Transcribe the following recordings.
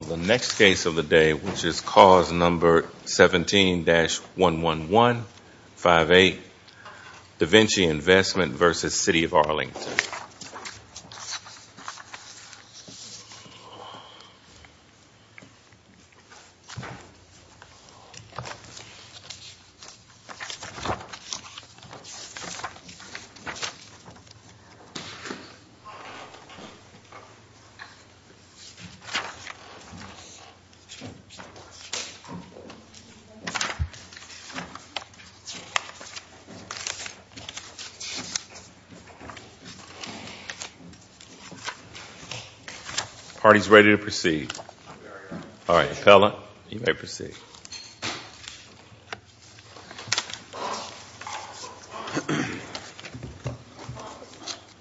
The next case of the day, which is cause number 17-11158, Da Vinci Investment v. City of Arlington. Party's ready to proceed. All right, appellant, you may proceed.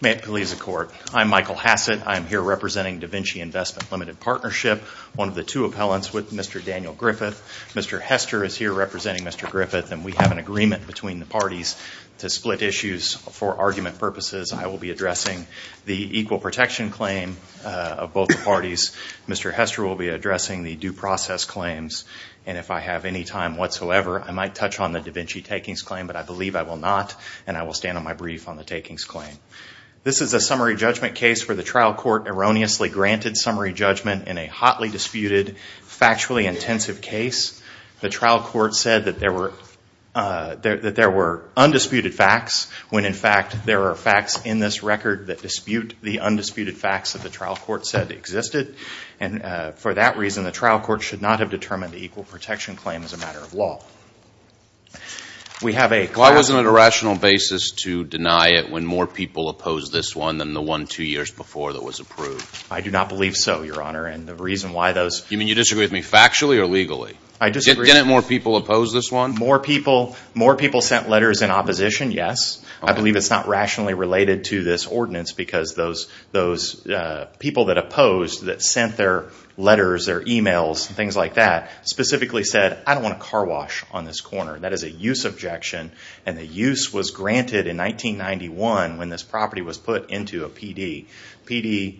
May it please the Court, I'm Michael Hassett. I'm here representing Da Vinci Investment Limited Partnership, one of the two appellants with Mr. Daniel Griffith. Mr. Hester is here representing Mr. Griffith, and we have an agreement between the parties to split issues for argument purposes. I will be addressing the equal protection claim of both parties. Mr. Hester will be addressing the due process claims. And if I have any time whatsoever, I might touch on the Da Vinci takings claim, but I believe I will not, and I will stand on my brief on the takings claim. This is a summary judgment case where the trial court erroneously granted summary judgment in a hotly disputed, factually intensive case. The trial court said that there were undisputed facts, when in fact there are facts in this record that dispute the undisputed facts that the trial court said existed. And for that reason, the trial court should not have determined the equal protection claim as a matter of law. We have a – Why wasn't it a rational basis to deny it when more people opposed this one than the one two years before that was approved? I do not believe so, Your Honor, and the reason why those – You mean you disagree with me factually or legally? I disagree – Didn't more people oppose this one? More people – more people sent letters in opposition, yes. I believe it's not rationally related to this ordinance, because those people that opposed, that sent their letters, their emails, things like that, specifically said, I don't want a car wash on this corner. That is a use objection, and the use was granted in 1991 when this property was put into a PD. PD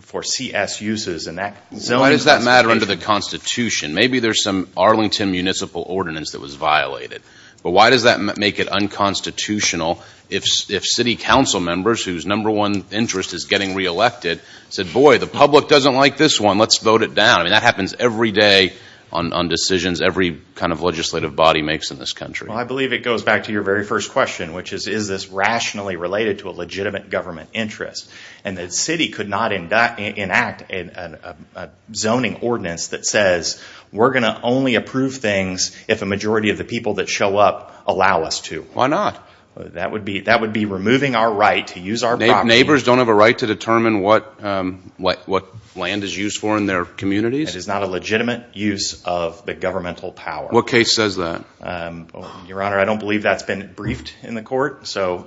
for CS uses, and that – Why does that matter under the Constitution? Maybe there's some Arlington Municipal Ordinance that was violated. But why does that make it unconstitutional if city council members, whose number one interest is getting reelected, said, boy, the public doesn't like this one. Let's vote it down. I mean, that happens every day on decisions every kind of legislative body makes in this country. Well, I believe it goes back to your very first question, which is, is this rationally related to a legitimate government interest? And the city could not enact a zoning ordinance that says we're going to only approve things if a majority of the people that show up allow us to. Why not? That would be removing our right to use our property. Neighbors don't have a right to determine what land is used for in their communities? It is not a legitimate use of the governmental power. What case says that? Your Honor, I don't believe that's been briefed in the court. So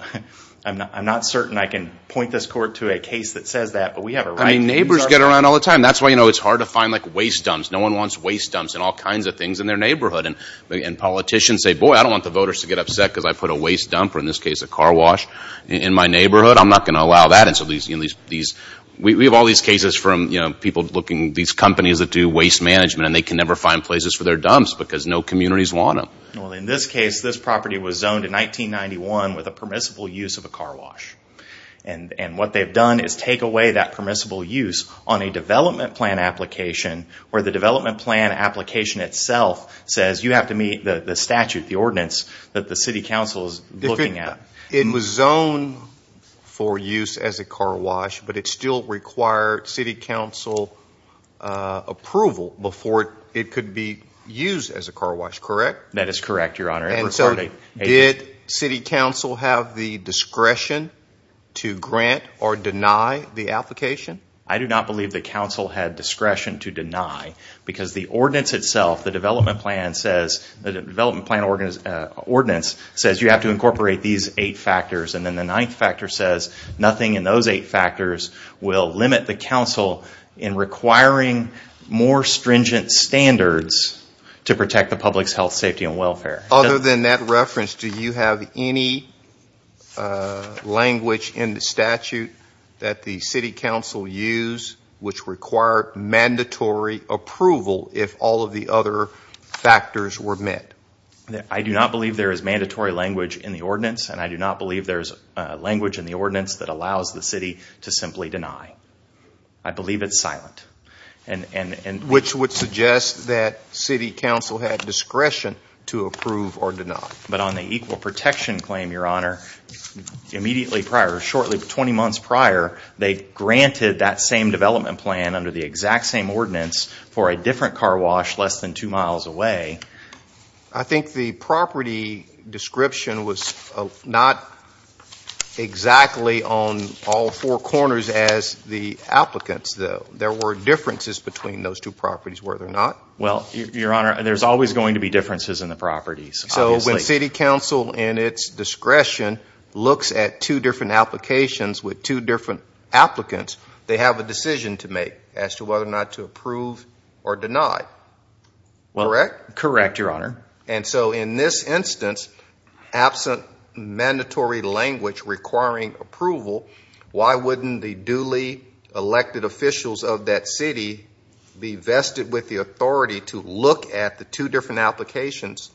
I'm not certain I can point this court to a case that says that, but we have a right to use our property. Neighbors get around all the time. That's why it's hard to find waste dumps. No one wants waste dumps in all kinds of things in their neighborhood. And politicians say, boy, I don't want the voters to get upset because I put a waste dump, or in this case a car wash, in my neighborhood. I'm not going to allow that. We have all these cases from people looking at these companies that do waste management, and they can never find places for their dumps because no communities want them. In this case, this property was zoned in 1991 with a permissible use of a car wash. And what they've done is take away that permissible use on a development plan application, where the development plan application itself says you have to meet the statute, the ordinance, that the city council is looking at. It was zoned for use as a car wash, but it still required city council approval before it could be used as a car wash, correct? That is correct, Your Honor. And so did city council have the discretion to grant or deny the application? I do not believe the council had discretion to deny. Because the ordinance itself, the development plan ordinance, says you have to incorporate these eight factors. And then the ninth factor says nothing in those eight factors will limit the council in requiring more stringent standards to protect the public's health, safety, and welfare. Other than that reference, do you have any language in the statute that the city council used which required mandatory approval if all of the other factors were met? I do not believe there is mandatory language in the ordinance, and I do not believe there is language in the ordinance that allows the city to simply deny. Which would suggest that city council had discretion to approve or deny. But on the equal protection claim, Your Honor, immediately prior, shortly, 20 months prior, they granted that same development plan under the exact same ordinance for a different car wash less than two miles away. I think the property description was not exactly on all four corners as the applicants, though. There were differences between those two properties, were there not? Well, Your Honor, there's always going to be differences in the properties. So when city council in its discretion looks at two different applications with two different applicants, they have a decision to make as to whether or not to approve or deny. Correct? Correct, Your Honor. And so in this instance, absent mandatory language requiring approval, why wouldn't the duly elected officials of that city be vested with the authority to look at the two different applications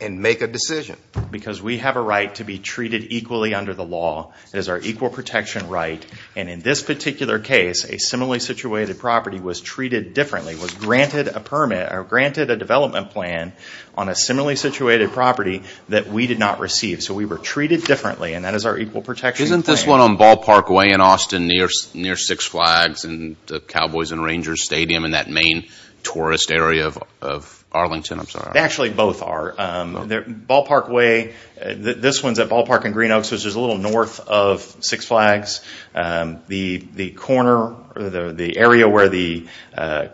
and make a decision? Because we have a right to be treated equally under the law. It is our equal protection right. And in this particular case, a similarly situated property was treated differently, was granted a permit or granted a development plan on a similarly situated property that we did not receive. So we were treated differently, and that is our equal protection claim. Isn't this one on Ballpark Way in Austin near Six Flags and the Cowboys and Rangers Stadium in that main tourist area of Arlington? I'm sorry. They actually both are. Ballpark Way, this one's at Ballpark and Green Oaks, which is a little north of Six Flags. The area where the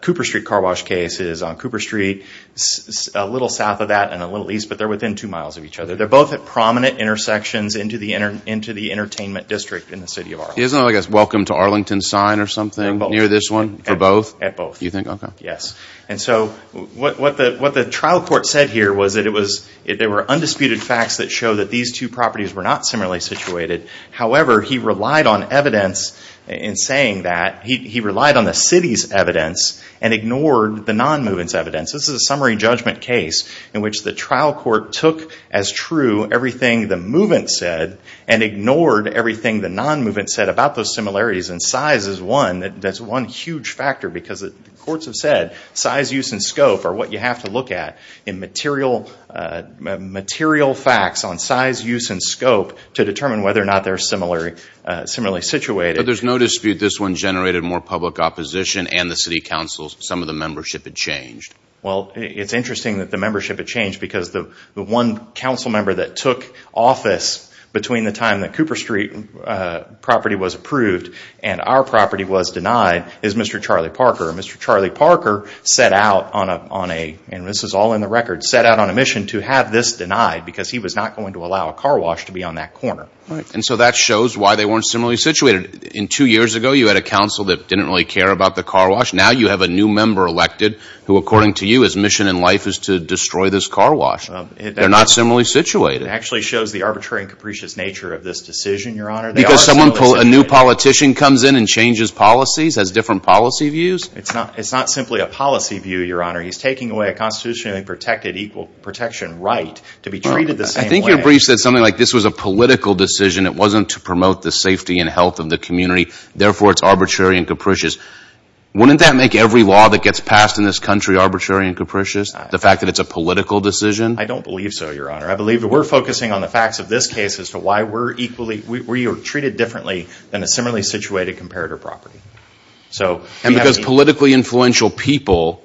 Cooper Street car wash case is on Cooper Street, a little south of that and a little east, but they're within two miles of each other. They're both at prominent intersections into the entertainment district in the city of Arlington. Isn't it like a welcome to Arlington sign or something near this one for both? At both. You think? Okay. Yes. And so what the trial court said here was that there were undisputed facts that show that these two properties were not similarly situated. However, he relied on evidence in saying that. He relied on the city's evidence and ignored the non-movement's evidence. This is a summary judgment case in which the trial court took as true everything the movement said and ignored everything the non-movement said about those similarities. Size is one. That's one huge factor because the courts have said size, use, and scope are what you have to look at in material facts on size, use, and scope to determine whether or not they're similarly situated. But there's no dispute this one generated more public opposition and the city council, some of the membership had changed. Well, it's interesting that the membership had changed because the one council member that took office between the time that Cooper Street property was approved and our property was denied is Mr. Charlie Parker. Mr. Charlie Parker set out on a, and this is all in the record, set out on a mission to have this denied because he was not going to allow a car wash to be on that corner. And so that shows why they weren't similarly situated. In two years ago, you had a council that didn't really care about the car wash. Now you have a new member elected who, according to you, his mission in life is to destroy this car wash. They're not similarly situated. It actually shows the arbitrary and capricious nature of this decision, Your Honor. Because someone, a new politician comes in and changes policies, has different policy views? It's not simply a policy view, Your Honor. He's taking away a constitutionally protected equal protection right to be treated the same way. I think your brief said something like this was a political decision. It wasn't to promote the safety and health of the community. Therefore, it's arbitrary and capricious. Wouldn't that make every law that gets passed in this country arbitrary and capricious, the fact that it's a political decision? I don't believe so, Your Honor. I believe that we're focusing on the facts of this case as to why we're treated differently than a similarly situated comparator property. And because politically influential people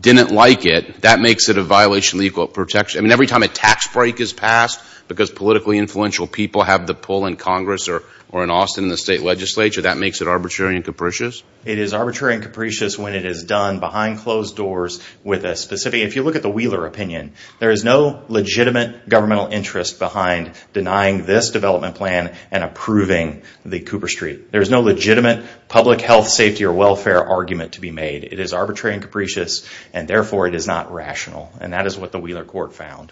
didn't like it, that makes it a violation of equal protection. I mean, every time a tax break is passed because politically influential people have the pull in Congress or in Austin in the state legislature, that makes it arbitrary and capricious? It is arbitrary and capricious when it is done behind closed doors with a specific, if you look at the Wheeler opinion, there is no legitimate governmental interest behind denying this development plan and approving the Cooper Street. There is no legitimate public health, safety, or welfare argument to be made. It is arbitrary and capricious, and therefore it is not rational. And that is what the Wheeler court found.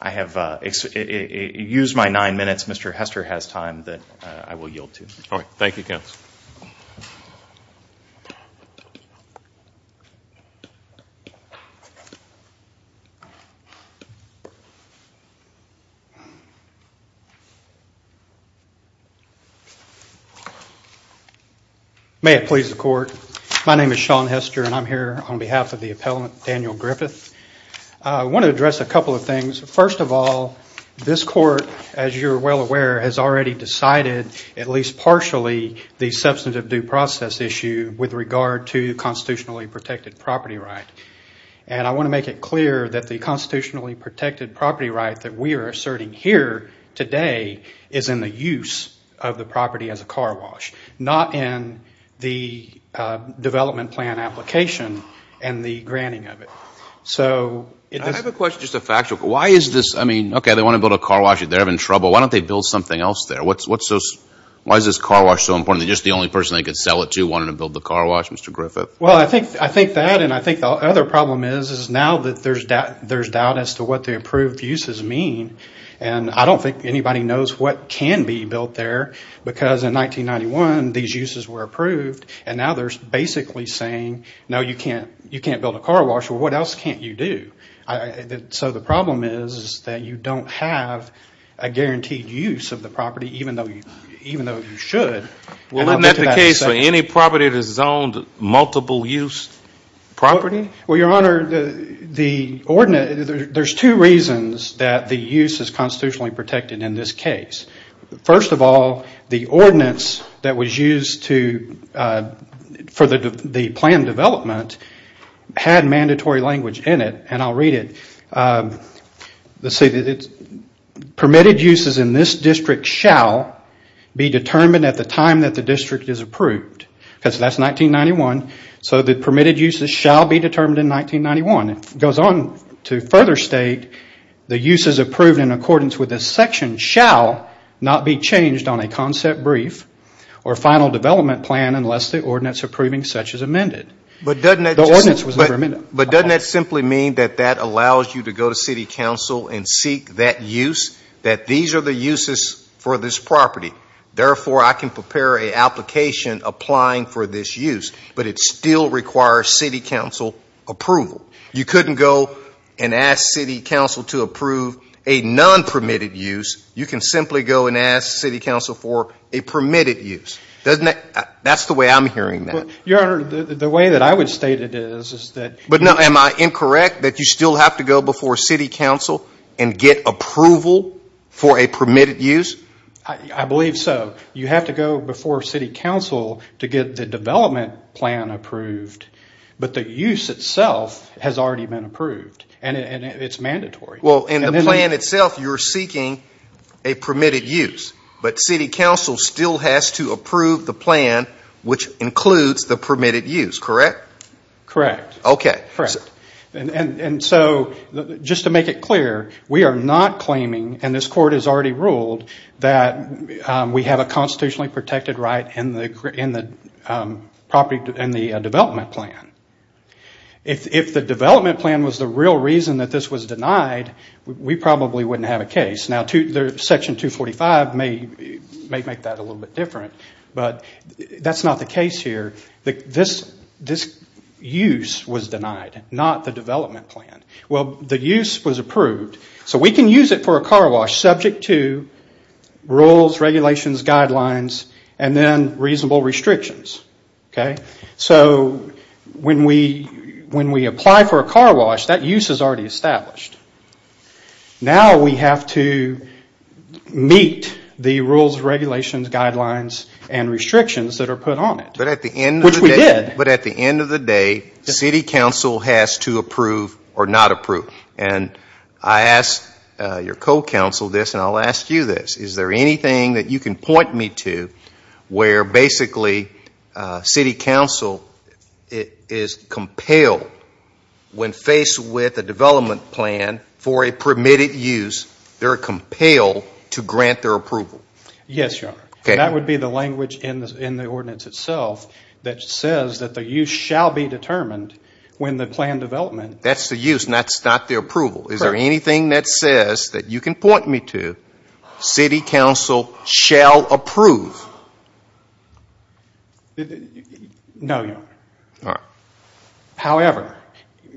I have used my nine minutes. Mr. Hester has time that I will yield to. All right. Thank you, counsel. May it please the court. My name is Sean Hester, and I'm here on behalf of the appellant, Daniel Griffith. I want to address a couple of things. First of all, this court, as you're well aware, has already decided at least partially the substantive due process issue with regard to constitutionally protected property right. And I want to make it clear that the constitutionally protected property right that we are asserting here today is in the use of the property as a car wash, not in the development plan application and the granting of it. I have a question, just a factual question. Why is this, I mean, okay, they want to build a car wash. They're having trouble. Why don't they build something else there? Why is this car wash so important? They're just the only person they could sell it to wanting to build the car wash, Mr. Griffith. Well, I think that and I think the other problem is now that there's doubt as to what the approved uses mean, and I don't think anybody knows what can be built there because in 1991, these uses were approved, and now they're basically saying, no, you can't build a car wash. Well, what else can't you do? So the problem is that you don't have a guaranteed use of the property even though you should. Well, isn't that the case for any property that is zoned multiple use property? Well, Your Honor, there's two reasons that the use is constitutionally protected in this case. First of all, the ordinance that was used for the plan development had mandatory language in it, and I'll read it. Let's see. Permitted uses in this district shall be determined at the time that the district is approved because that's 1991. So the permitted uses shall be determined in 1991. It goes on to further state the uses approved in accordance with this section shall not be changed on a concept brief or final development plan unless the ordinance approving such is amended. But doesn't that simply mean that that allows you to go to city council and seek that use, that these are the uses for this property. Therefore, I can prepare an application applying for this use, but it still requires city council approval. You couldn't go and ask city council to approve a non-permitted use. You can simply go and ask city council for a permitted use. Doesn't that ñ that's the way I'm hearing that. Your Honor, the way that I would state it is, is that ñ But now, am I incorrect that you still have to go before city council and get approval for a permitted use? I believe so. You have to go before city council to get the development plan approved, but the use itself has already been approved and it's mandatory. Well, in the plan itself you're seeking a permitted use, but city council still has to approve the plan which includes the permitted use, correct? Correct. Okay. Correct. Just to make it clear, we are not claiming, and this court has already ruled, that we have a constitutionally protected right in the development plan. If the development plan was the real reason that this was denied, we probably wouldn't have a case. Section 245 may make that a little bit different, but that's not the case here. This use was denied, not the development plan. Well, the use was approved, so we can use it for a car wash subject to rules, regulations, guidelines, and then reasonable restrictions, okay? So when we apply for a car wash, that use is already established. Now we have to meet the rules, regulations, guidelines, and restrictions that are put on it. Which we did. But at the end of the day, city council has to approve or not approve. And I asked your co-council this, and I'll ask you this. Is there anything that you can point me to where basically city council is compelled, when faced with a development plan for a permitted use, they're compelled to grant their approval? Yes, Your Honor. Okay. That would be the language in the ordinance itself that says that the use shall be determined when the planned development. That's the use, and that's not the approval. Is there anything that says that you can point me to city council shall approve? No, Your Honor. All right. However,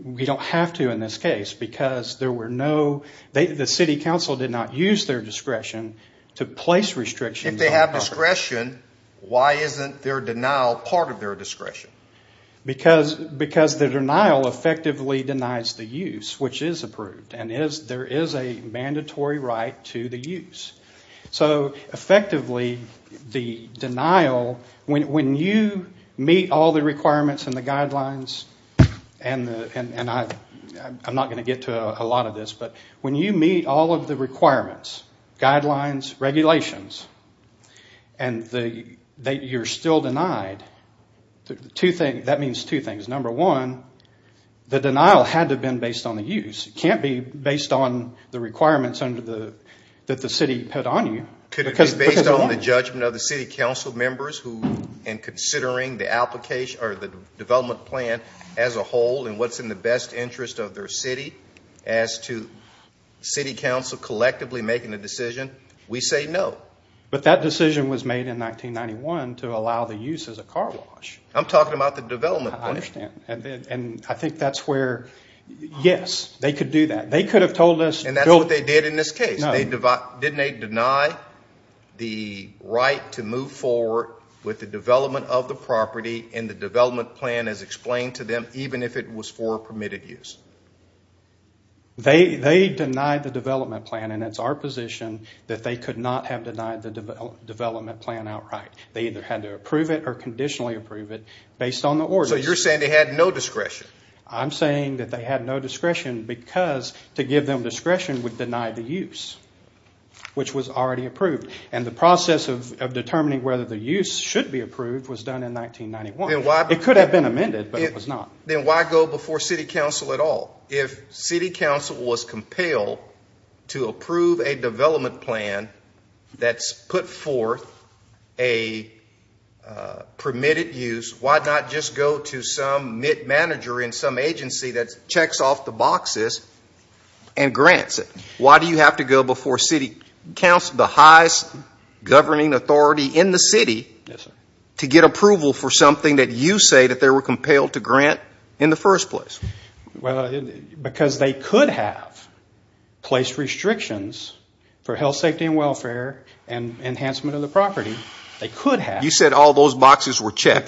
we don't have to in this case because there were no, the city council did not use their discretion to place restrictions. If they have discretion, why isn't their denial part of their discretion? Because the denial effectively denies the use, which is approved, and there is a mandatory right to the use. So effectively, the denial, when you meet all the requirements and the guidelines, and I'm not going to get to a lot of this, but when you meet all of the requirements, guidelines, regulations, and you're still denied, that means two things. Number one, the denial had to have been based on the use. It can't be based on the requirements that the city put on you. Could it be based on the judgment of the city council members in considering the development plan as a whole and what's in the best interest of their city as to city council collectively making a decision? We say no. But that decision was made in 1991 to allow the use as a car wash. I'm talking about the development plan. I understand, and I think that's where, yes, they could do that. They could have told us. And that's what they did in this case. Didn't they deny the right to move forward with the development of the property and the development plan as explained to them, even if it was for permitted use? They denied the development plan, and it's our position that they could not have denied the development plan outright. They either had to approve it or conditionally approve it based on the order. So you're saying they had no discretion? I'm saying that they had no discretion because to give them discretion would deny the use, which was already approved. And the process of determining whether the use should be approved was done in 1991. It could have been amended, but it was not. Then why go before city council at all? If city council was compelled to approve a development plan that's put forth a permitted use, why not just go to some MIT manager in some agency that checks off the boxes and grants it? Why do you have to go before city council, the highest governing authority in the city, to get approval for something that you say that they were compelled to grant in the first place? Because they could have placed restrictions for health, safety, and welfare and enhancement of the property. They could have. You said all those boxes were checked.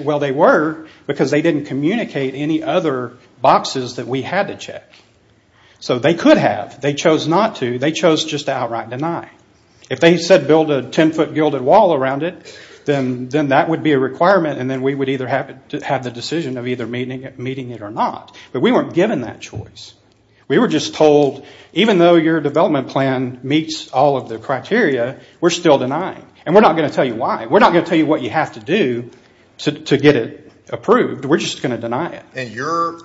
Well, they were because they didn't communicate any other boxes that we had to check. So they could have. They chose not to. They chose just to outright deny. If they said build a ten-foot gilded wall around it, then that would be a requirement, and then we would either have the decision of either meeting it or not. But we weren't given that choice. We were just told, even though your development plan meets all of the criteria, we're still denying. And we're not going to tell you why. We're not going to tell you what you have to do to get it approved. We're just going to deny it. And you're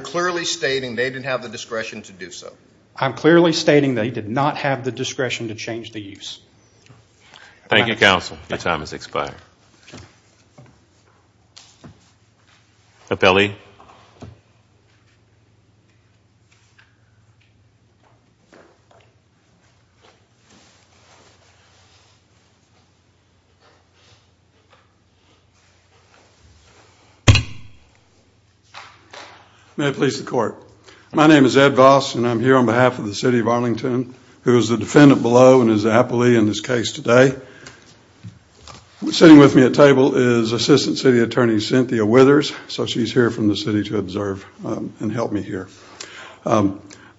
clearly stating they didn't have the discretion to do so. I'm clearly stating they did not have the discretion to change the use. Thank you, counsel. Your time has expired. Thank you. Appellee. May it please the Court. My name is Ed Voss, and I'm here on behalf of the city of Arlington, who is the defendant below and is the appellee in this case today. Sitting with me at table is Assistant City Attorney Cynthia Withers, so she's here from the city to observe and help me here.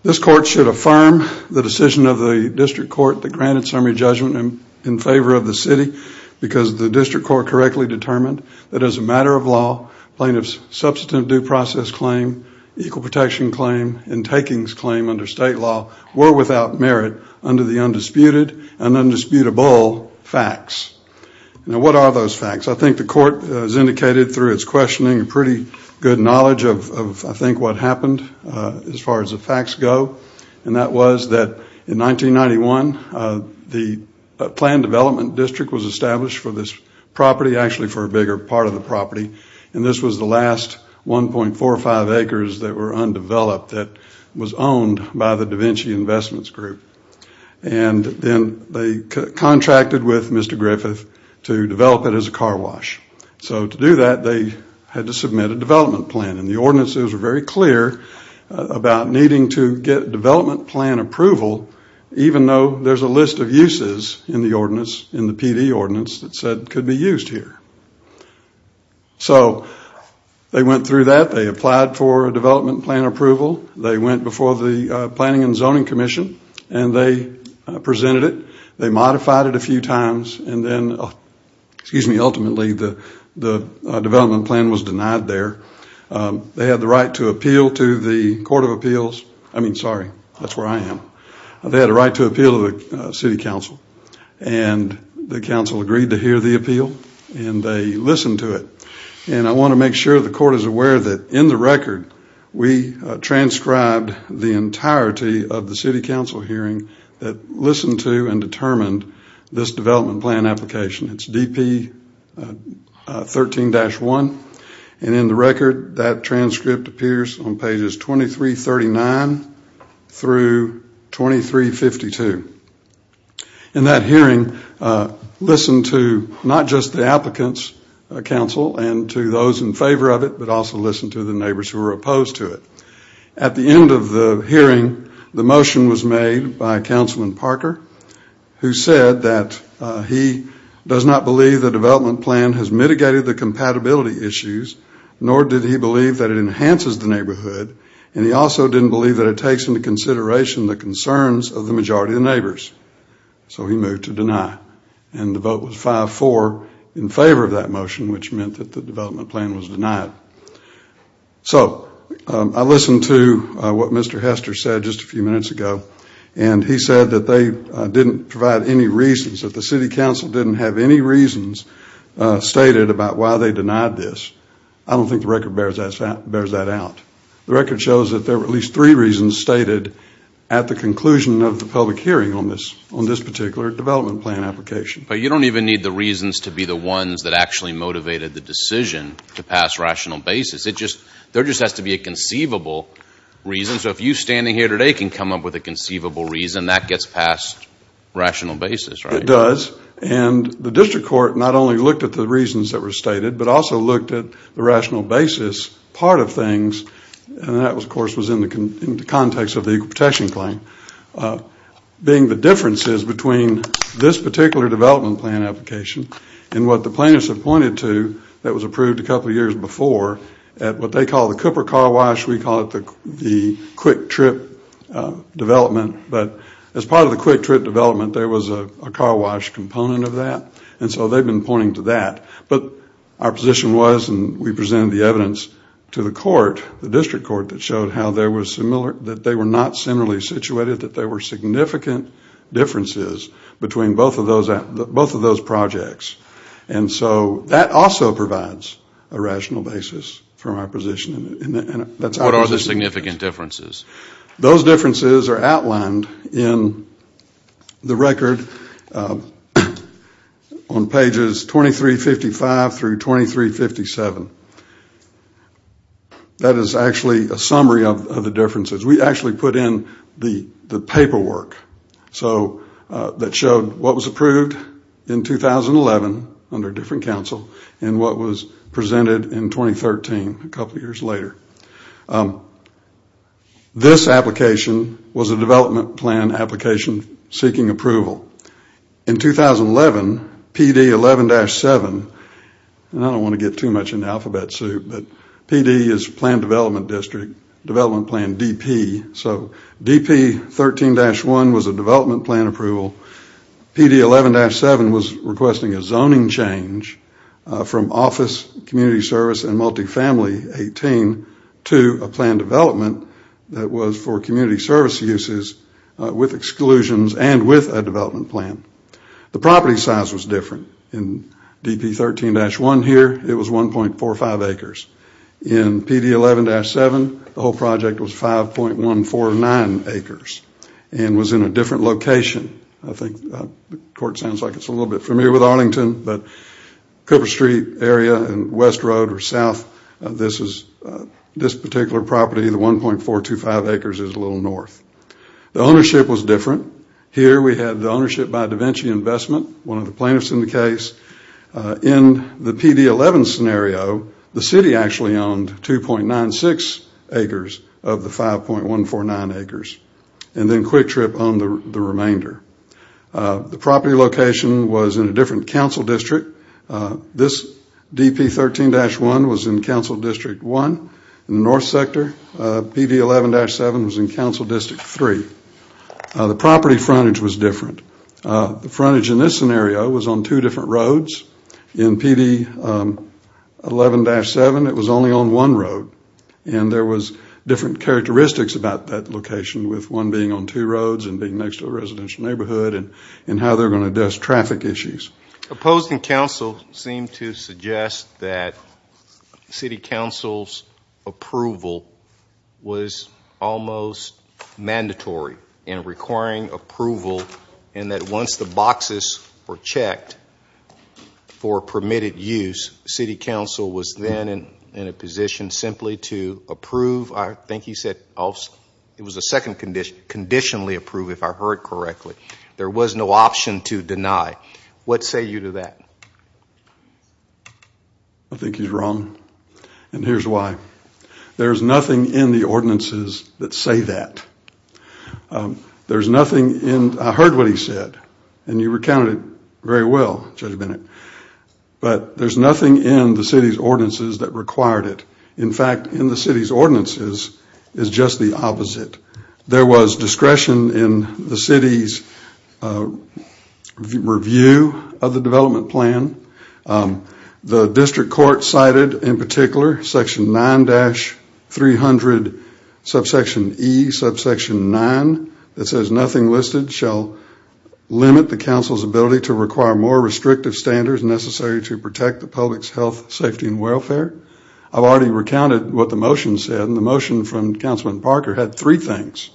This court should affirm the decision of the district court that granted summary judgment in favor of the city because the district court correctly determined that as a matter of law, plaintiffs' substantive due process claim, equal protection claim, and takings claim under state law were without merit under the undisputed and undisputable facts. Now, what are those facts? I think the court has indicated through its questioning a pretty good knowledge of, I think, what happened as far as the facts go, and that was that in 1991, the planned development district was established for this property, actually for a bigger part of the property, and this was the last 1.45 acres that were undeveloped that was owned by the Da Vinci Investments Group. And then they contracted with Mr. Griffith to develop it as a car wash. So to do that, they had to submit a development plan, and the ordinances were very clear about needing to get development plan approval, even though there's a list of uses in the PD ordinance that said it could be used here. So they went through that. They applied for development plan approval. They went before the Planning and Zoning Commission, and they presented it. They modified it a few times, and then ultimately the development plan was denied there. They had the right to appeal to the Court of Appeals. I mean, sorry, that's where I am. They had a right to appeal to the city council, and the council agreed to hear the appeal, and they listened to it. And I want to make sure the court is aware that in the record, we transcribed the entirety of the city council hearing that listened to and determined this development plan application. It's DP 13-1, and in the record that transcript appears on pages 2339 through 2352. In that hearing, listened to not just the applicants, council, and to those in favor of it, but also listened to the neighbors who were opposed to it. At the end of the hearing, the motion was made by Councilman Parker, who said that he does not believe the development plan has mitigated the compatibility issues, nor did he believe that it enhances the neighborhood, and he also didn't believe that it takes into consideration the concerns of the majority of the neighbors. So he moved to deny, and the vote was 5-4 in favor of that motion, which meant that the development plan was denied. So I listened to what Mr. Hester said just a few minutes ago, and he said that they didn't provide any reasons, that the city council didn't have any reasons stated about why they denied this. I don't think the record bears that out. The record shows that there were at least three reasons stated at the conclusion of the public hearing on this particular development plan application. But you don't even need the reasons to be the ones that actually motivated the decision to pass rational basis. There just has to be a conceivable reason. So if you standing here today can come up with a conceivable reason, that gets passed rational basis, right? It does, and the district court not only looked at the reasons that were stated, but also looked at the rational basis part of things, and that of course was in the context of the equal protection claim. Being the differences between this particular development plan application and what the plaintiffs have pointed to that was approved a couple of years before at what they call the Cooper car wash, we call it the quick trip development. But as part of the quick trip development, there was a car wash component of that, and so they've been pointing to that. But our position was, and we presented the evidence to the court, the district court that showed how they were not similarly situated, that there were significant differences between both of those projects. And so that also provides a rational basis for our position. What are the significant differences? Those differences are outlined in the record on pages 2355 through 2357. That is actually a summary of the differences. We actually put in the paperwork that showed what was approved in 2011 under a different counsel and what was presented in 2013, a couple of years later. This application was a development plan application seeking approval. In 2011, PD 11-7, and I don't want to get too much in the alphabet soup, but PD is plan development district, development plan DP. So DP 13-1 was a development plan approval. PD 11-7 was requesting a zoning change from office community service and multifamily 18 to a plan development that was for community service uses with exclusions and with a development plan. The property size was different. In DP 13-1 here, it was 1.45 acres. In PD 11-7, the whole project was 5.149 acres and was in a different location. I think the court sounds like it's a little bit familiar with Arlington, but Cooper Street area and West Road or South, this particular property, the 1.425 acres is a little north. The ownership was different. Here we had the ownership by DaVinci Investment, one of the plaintiffs in the case. In the PD 11 scenario, the city actually owned 2.96 acres of the 5.149 acres and then Quick Trip owned the remainder. The property location was in a different council district. This DP 13-1 was in Council District 1. In the north sector, PD 11-7 was in Council District 3. The property frontage was different. The frontage in this scenario was on two different roads. In PD 11-7, it was only on one road, and there was different characteristics about that location with one being on two roads and being next to a residential neighborhood and how they're going to address traffic issues. Opposed in council seemed to suggest that city council's approval was almost mandatory in requiring approval and that once the boxes were checked for permitted use, city council was then in a position simply to approve. I think you said it was a second condition, conditionally approve if I heard correctly. There was no option to deny. What say you to that? I think he's wrong, and here's why. There's nothing in the ordinances that say that. There's nothing in, I heard what he said, and you recounted it very well, Judge Bennett, but there's nothing in the city's ordinances that required it. There was discretion in the city's review of the development plan. The district court cited in particular section 9-300, subsection E, subsection 9, that says nothing listed shall limit the council's ability to require more restrictive standards necessary to protect the public's health, safety, and welfare. I've already recounted what the motion said, and the motion from Councilman Parker had three things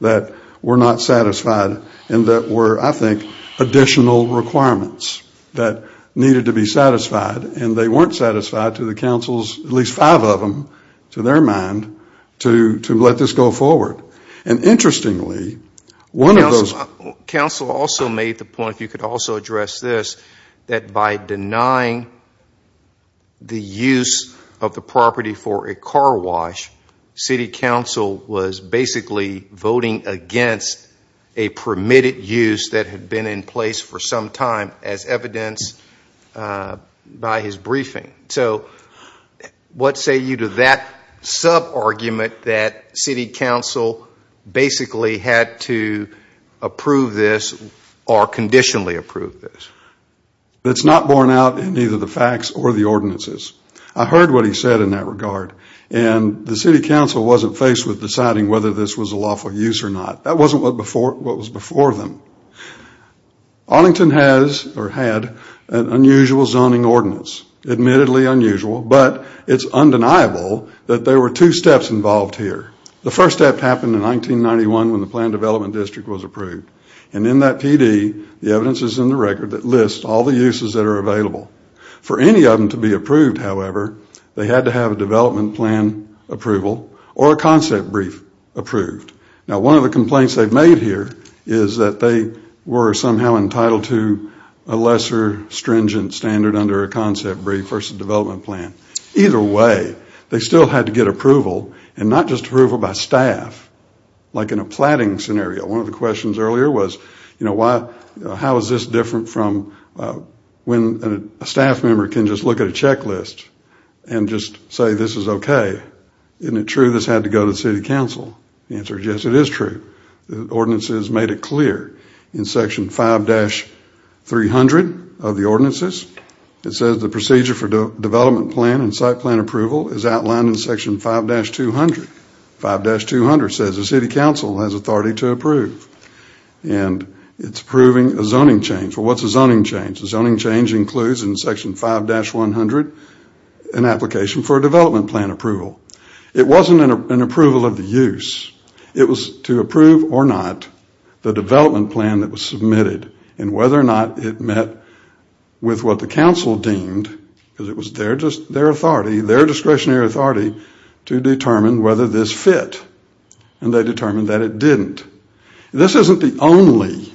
that were not satisfied and that were, I think, additional requirements that needed to be satisfied, and they weren't satisfied to the council's, at least five of them, to their mind, to let this go forward. And interestingly, one of those... Council also made the point, if you could also address this, that by denying the use of the property for a car wash, city council was basically voting against a permitted use that had been in place for some time, as evidenced by his briefing. So what say you to that sub-argument that city council basically had to approve this or conditionally approve this? It's not borne out in either the facts or the ordinances. I heard what he said in that regard, and the city council wasn't faced with deciding whether this was a lawful use or not. That wasn't what was before them. Arlington has, or had, an unusual zoning ordinance, admittedly unusual, but it's undeniable that there were two steps involved here. The first step happened in 1991 when the Planned Development District was approved, and in that PD, the evidence is in the record that lists all the uses that are available. For any of them to be approved, however, they had to have a development plan approval or a concept brief approved. Now, one of the complaints they've made here is that they were somehow entitled to a lesser stringent standard under a concept brief versus development plan. Either way, they still had to get approval, and not just approval by staff, like in a platting scenario. One of the questions earlier was, you know, how is this different from when a staff member can just look at a checklist and just say this is okay? Isn't it true this had to go to the city council? The answer is yes, it is true. The ordinances made it clear. In section 5-300 of the ordinances, it says the procedure for development plan and site plan approval is outlined in section 5-200. 5-200 says the city council has authority to approve, and it's approving a zoning change. Well, what's a zoning change? A zoning change includes in section 5-100 an application for a development plan approval. It wasn't an approval of the use. It was to approve or not the development plan that was submitted and whether or not it met with what the council deemed, because it was their discretionary authority to determine whether this fit, and they determined that it didn't. This isn't the only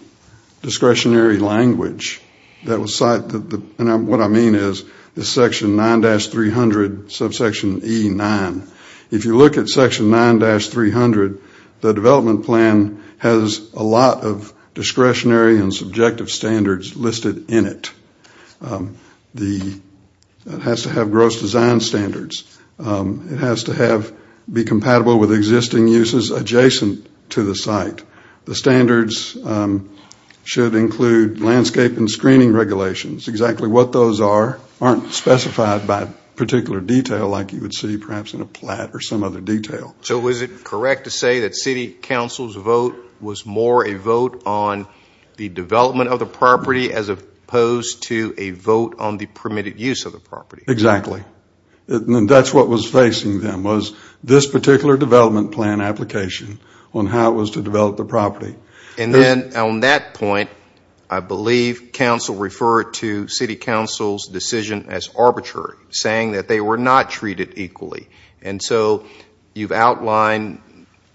discretionary language that was cited, and what I mean is the section 9-300 subsection E9. If you look at section 9-300, the development plan has a lot of discretionary and subjective standards listed in it. It has to have gross design standards. It has to be compatible with existing uses adjacent to the site. The standards should include landscape and screening regulations. Exactly what those are aren't specified by particular detail like you would see perhaps in a plat or some other detail. So is it correct to say that city council's vote was more a vote on the development of the property as opposed to a vote on the permitted use of the property? Exactly, and that's what was facing them was this particular development plan application on how it was to develop the property. And then on that point, I believe council referred to city council's decision as arbitrary, saying that they were not treated equally, and so you've outlined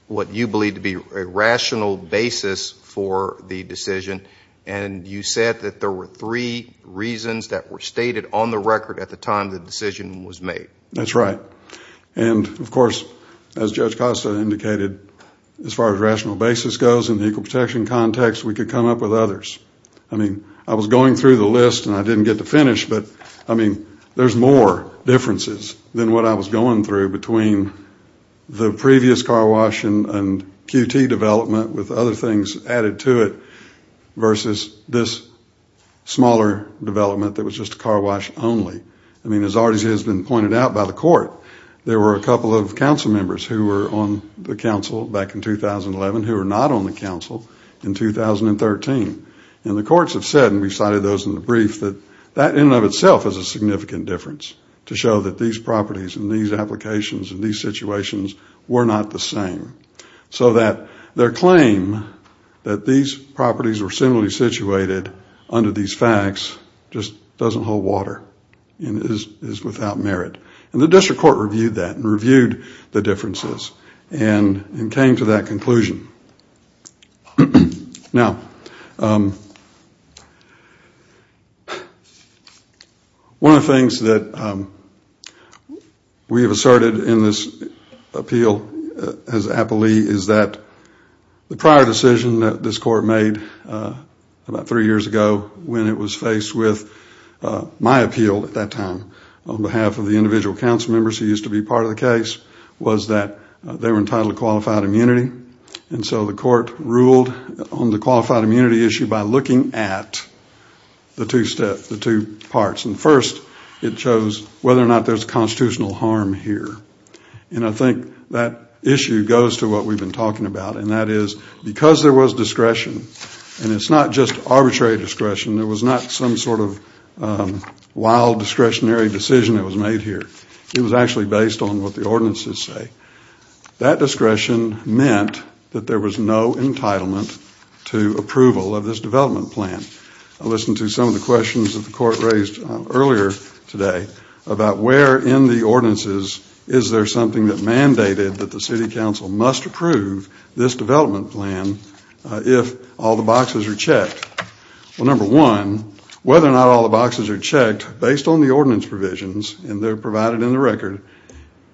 what you believe to be a rational basis for the decision, and you said that there were three reasons that were stated on the record at the time the decision was made. That's right. And of course, as Judge Costa indicated, as far as rational basis goes, in the equal protection context, we could come up with others. I mean, I was going through the list and I didn't get to finish, but I mean, there's more differences than what I was going through between the previous car wash and QT development with other things added to it that was just a car wash only. I mean, as already has been pointed out by the court, there were a couple of council members who were on the council back in 2011 who were not on the council in 2013. And the courts have said, and we cited those in the brief, that that in and of itself is a significant difference to show that these properties and these applications and these situations were not the same. So that their claim that these properties were similarly situated under these facts just doesn't hold water and is without merit. And the district court reviewed that and reviewed the differences and came to that conclusion. Now, one of the things that we have asserted in this appeal as an appellee is that the prior decision that this court made about three years ago when it was faced with my appeal at that time on behalf of the individual council members who used to be part of the case was that they were entitled to qualified immunity. And so the court ruled on the qualified immunity issue by looking at the two steps, the two parts. And first, it chose whether or not there's constitutional harm here. And I think that issue goes to what we've been talking about and that is because there was discretion and it's not just arbitrary discretion, there was not some sort of wild discretionary decision that was made here. It was actually based on what the ordinances say. That discretion meant that there was no entitlement to approval of this development plan. I listened to some of the questions about where in the ordinances is there something that mandated that the city council must approve this development plan if all the boxes are checked. Well, number one, whether or not all the boxes are checked based on the ordinance provisions and they're provided in the record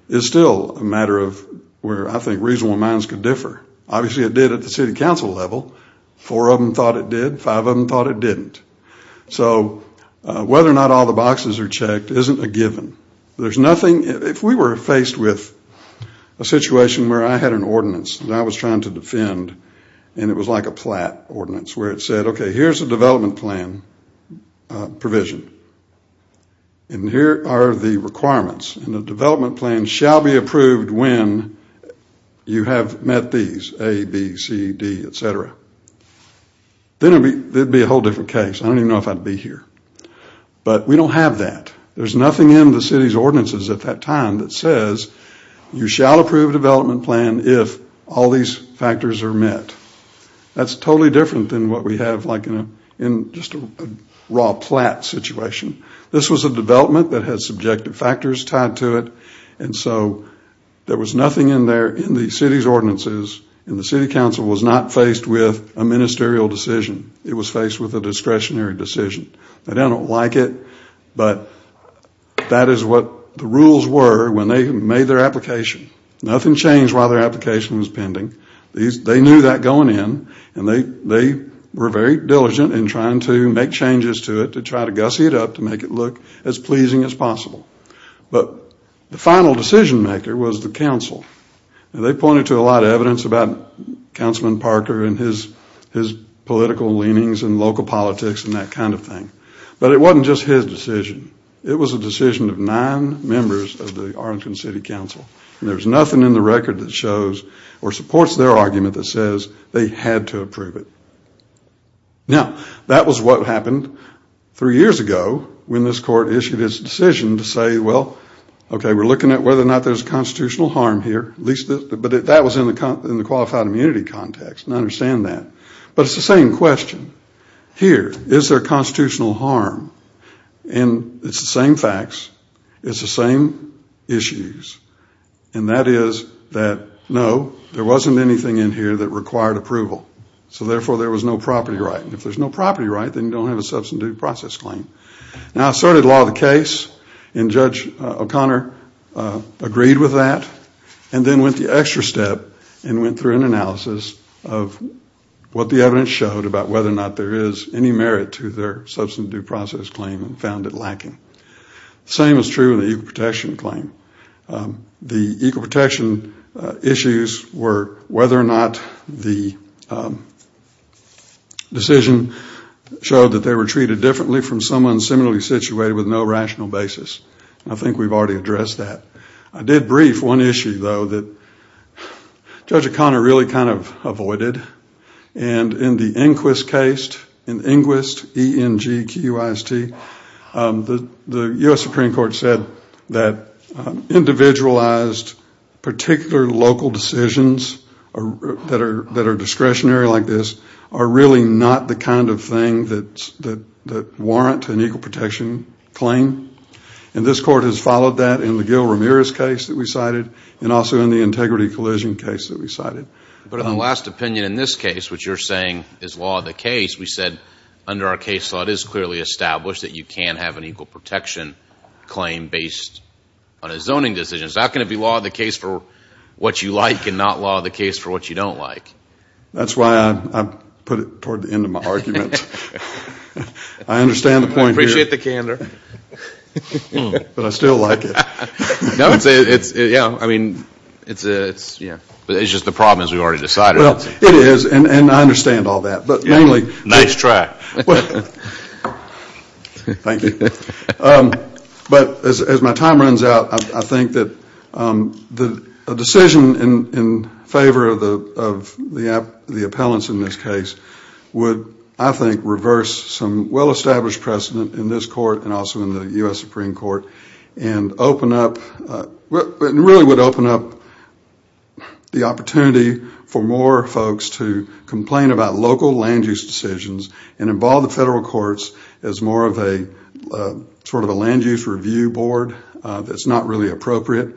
is still a matter of where I think reasonable amounts could differ. Obviously, it did at the city council level. Four of them thought it did. Five of them thought it didn't. So whether or not all the boxes are checked isn't a given. If we were faced with a situation where I had an ordinance that I was trying to defend and it was like a plat ordinance where it said, okay, here's a development plan provision and here are the requirements and the development plan shall be approved when you have met these, A, B, C, D, etc., then it would be a whole different case. I don't even know if I'd be here. But we don't have that. There's nothing in the city's ordinances at that time that says you shall approve a development plan if all these factors are met. That's totally different than what we have like in just a raw plat situation. This was a development that has subjective factors tied to it. And so there was nothing in there in the city's ordinances and the city council was not faced with a ministerial decision. It was faced with a discretionary decision. They don't like it, but that is what the rules were when they made their application. Nothing changed while their application was pending. They knew that going in and they were very diligent in trying to make changes to it to try to gussy it up to make it look as pleasing as possible. But the final decision maker was the council. They pointed to a lot of evidence about Councilman Parker and his political leanings and local politics and that kind of thing. But it wasn't just his decision. It was a decision of nine members of the Arlington City Council. And there's nothing in the record that shows or supports their argument that says they had to approve it. Now, that was what happened three years ago when this court issued its decision to say, well, okay, we're looking at whether or not there's constitutional harm here. But that was in the qualified immunity context and I understand that. But it's the same question. Here, is there constitutional harm? And it's the same facts. It's the same issues. And that is that, no, there wasn't anything in here that required approval. So, therefore, there was no property right. And if there's no property right, then you don't have a substantive process claim. Now, I started a lot of the case and Judge O'Connor agreed with that and then went the extra step and went through an analysis of what the evidence showed about whether or not there is any merit to their substantive due process claim and found it lacking. The same is true in the equal protection claim. The equal protection issues were whether or not the decision showed that they were treated differently from someone similarly situated with no rational basis. I think we've already addressed that. I did brief one issue, though, that Judge O'Connor really kind of avoided. And in the Inquist case, in Inquist, E-N-G-Q-I-S-T, the U.S. Supreme Court said that individualized particular local decisions that are discretionary like this are really not the kind of thing that warrant an equal protection claim. And this Court has followed that in the Gil Ramirez case that we cited and also in the integrity collision case that we cited. But in the last opinion in this case, which you're saying is law of the case, we said under our case law, it is clearly established that you can't have an equal protection claim based on a zoning decision. It's not going to be law of the case for what you like and not law of the case for what you don't like. That's why I put it toward the end of my argument. I understand the point here. You get the candor. But I still like it. Yeah, I mean, it's, yeah. But it's just the problem is we already decided. Well, it is, and I understand all that. But mainly... Nice try. Thank you. But as my time runs out, I think that a decision in favor of the appellants in this case would, I think, reverse some well-established precedent in this court and also in the U.S. Supreme Court and really would open up the opportunity for more folks to complain about local land-use decisions and involve the federal courts as more of a sort of a land-use review board that's not really appropriate.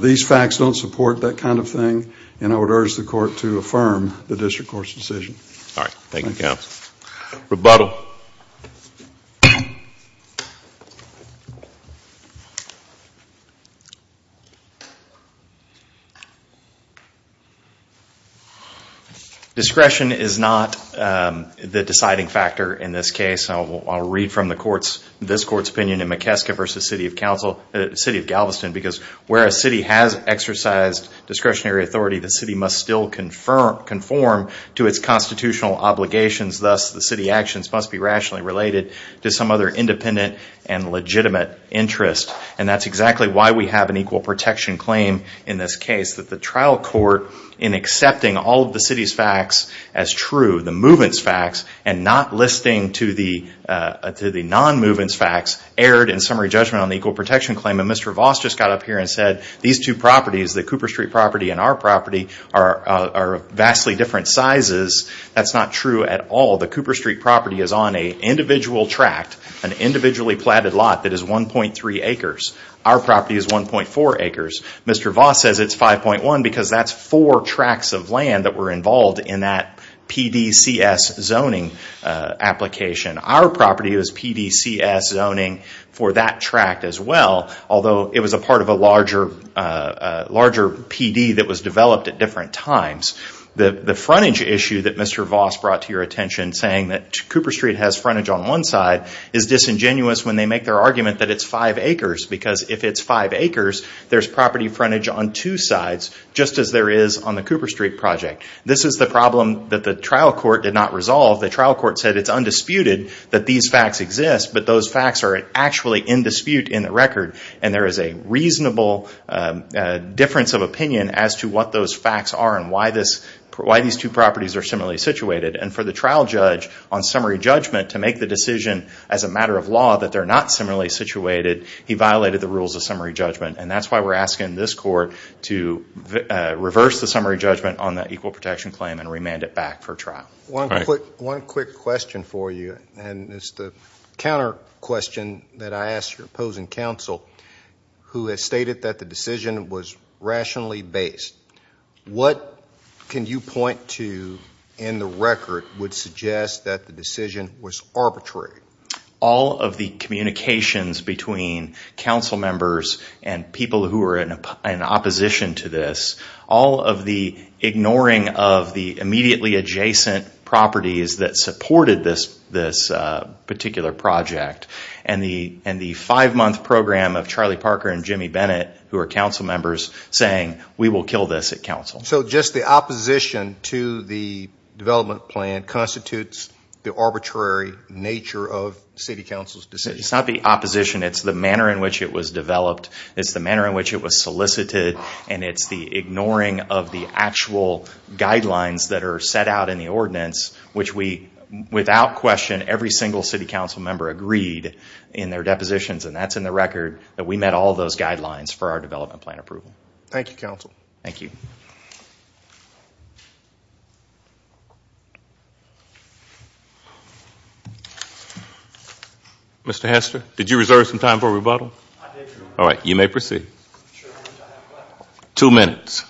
These facts don't support that kind of thing, and I would urge the court to affirm the district court's decision. All right, thank you, counsel. Rebuttal. Discretion is not the deciding factor in this case. I'll read from this court's opinion in McKeska v. City of Galveston because where a city has exercised discretionary authority, the city must still conform to its constitutional obligations. Thus, the city actions must be rationally related to some other independent and legitimate interest. And that's exactly why we have an equal protection claim in this case, that the trial court, in accepting all of the city's facts as true, the movements facts, and not listening to the non-movements facts, erred in summary judgment on the equal protection claim. And Mr. Voss just got up here and said, these two properties, the Cooper Street property and our property, are vastly different sizes. That's not true at all. The Cooper Street property is on an individual tract, an individually platted lot, that is 1.3 acres. Our property is 1.4 acres. Mr. Voss says it's 5.1 because that's four tracts of land that were involved in that PDCS zoning application. Our property was PDCS zoning for that tract as well, although it was a part of a larger PD that was developed at different times. The frontage issue that Mr. Voss brought to your attention, saying that Cooper Street has frontage on one side, is disingenuous when they make their argument that it's five acres, because if it's five acres, there's property frontage on two sides, just as there is on the Cooper Street project. This is the problem that the trial court did not resolve. The trial court said it's undisputed that these facts exist, but those facts are actually in dispute in the record, and there is a reasonable difference of opinion as to what those facts are and why these two properties are similarly situated. For the trial judge, on summary judgment, to make the decision as a matter of law that they're not similarly situated, he violated the rules of summary judgment. That's why we're asking this court to reverse the summary judgment on that equal protection claim and remand it back for trial. One quick question for you, and it's the counter question that I ask your opposing counsel, who has stated that the decision was rationally based. What can you point to in the record would suggest that the decision was arbitrary? All of the communications between council members and people who are in opposition to this, all of the ignoring of the immediately adjacent properties that supported this particular project, and the five-month program of Charlie Parker and Jimmy Bennett, who are council members, saying, we will kill this at council. So just the opposition to the development plan constitutes the arbitrary nature of city council's decision. It's not the opposition, it's the manner in which it was developed, it's the manner in which it was solicited, and it's the ignoring of the actual guidelines that are set out in the ordinance, which without question every single city council member agreed in their depositions, and that's in the record that we met all those guidelines for our development plan approval. Thank you, counsel. Thank you. Mr. Hester, did you reserve some time for rebuttal? I did, Your Honor. All right, you may proceed. Two minutes.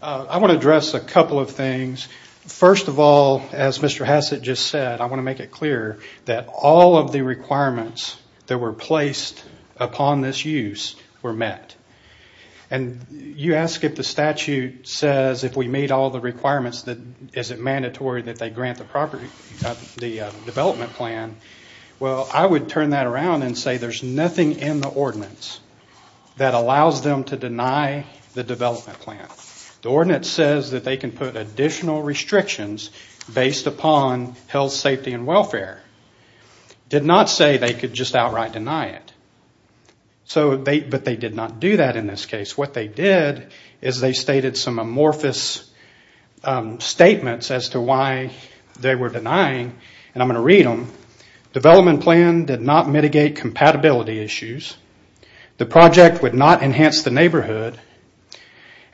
I want to address a couple of things. First of all, as Mr. Hassett just said, I want to make it clear that all of the requirements that were placed upon this use were met. And you ask if the statute says if we meet all the requirements, is it mandatory that they grant the development plan? Well, I would turn that around and say there's nothing in the ordinance that allows them to deny the development plan. The ordinance says that they can put additional restrictions based upon health, safety, and welfare. It did not say they could just outright deny it. But they did not do that in this case. What they did is they stated some amorphous statements as to why they were denying, and I'm going to read them. Development plan did not mitigate compatibility issues. The project would not enhance the neighborhood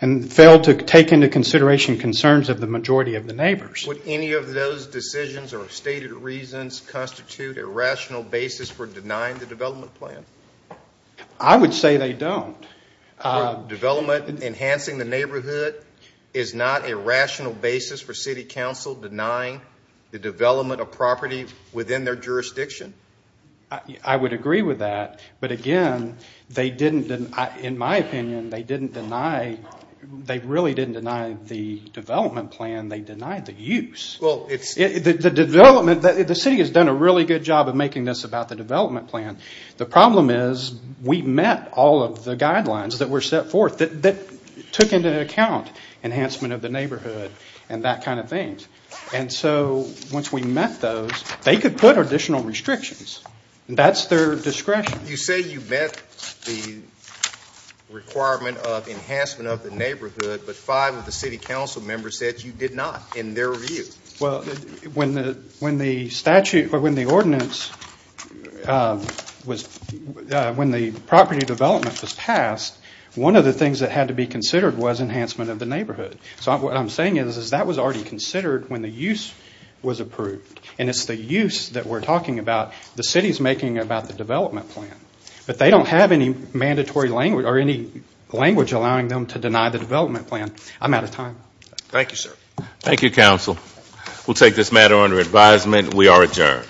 and failed to take into consideration concerns of the majority of the neighbors. Would any of those decisions or stated reasons constitute a rational basis for denying the development plan? I would say they don't. Development enhancing the neighborhood is not a rational basis for city council denying the development of property within their jurisdiction. I would agree with that. But again, in my opinion, they really didn't deny the development plan. They denied the use. The city has done a really good job of making this about the development plan. The problem is we met all of the guidelines that were set forth that took into account enhancement of the neighborhood and that kind of thing. And so once we met those, they could put additional restrictions. That's their discretion. You say you met the requirement of enhancement of the neighborhood, but five of the city council members said you did not, in their view. Well, when the statute or when the ordinance was, when the property development was passed, one of the things that had to be considered was enhancement of the neighborhood. So what I'm saying is that was already considered when the use was approved. And it's the use that we're talking about the city's making about the development plan. But they don't have any mandatory language or any language allowing them to deny the development plan. I'm out of time. Thank you, sir. Thank you, council. We'll take this matter under advisement. We are adjourned.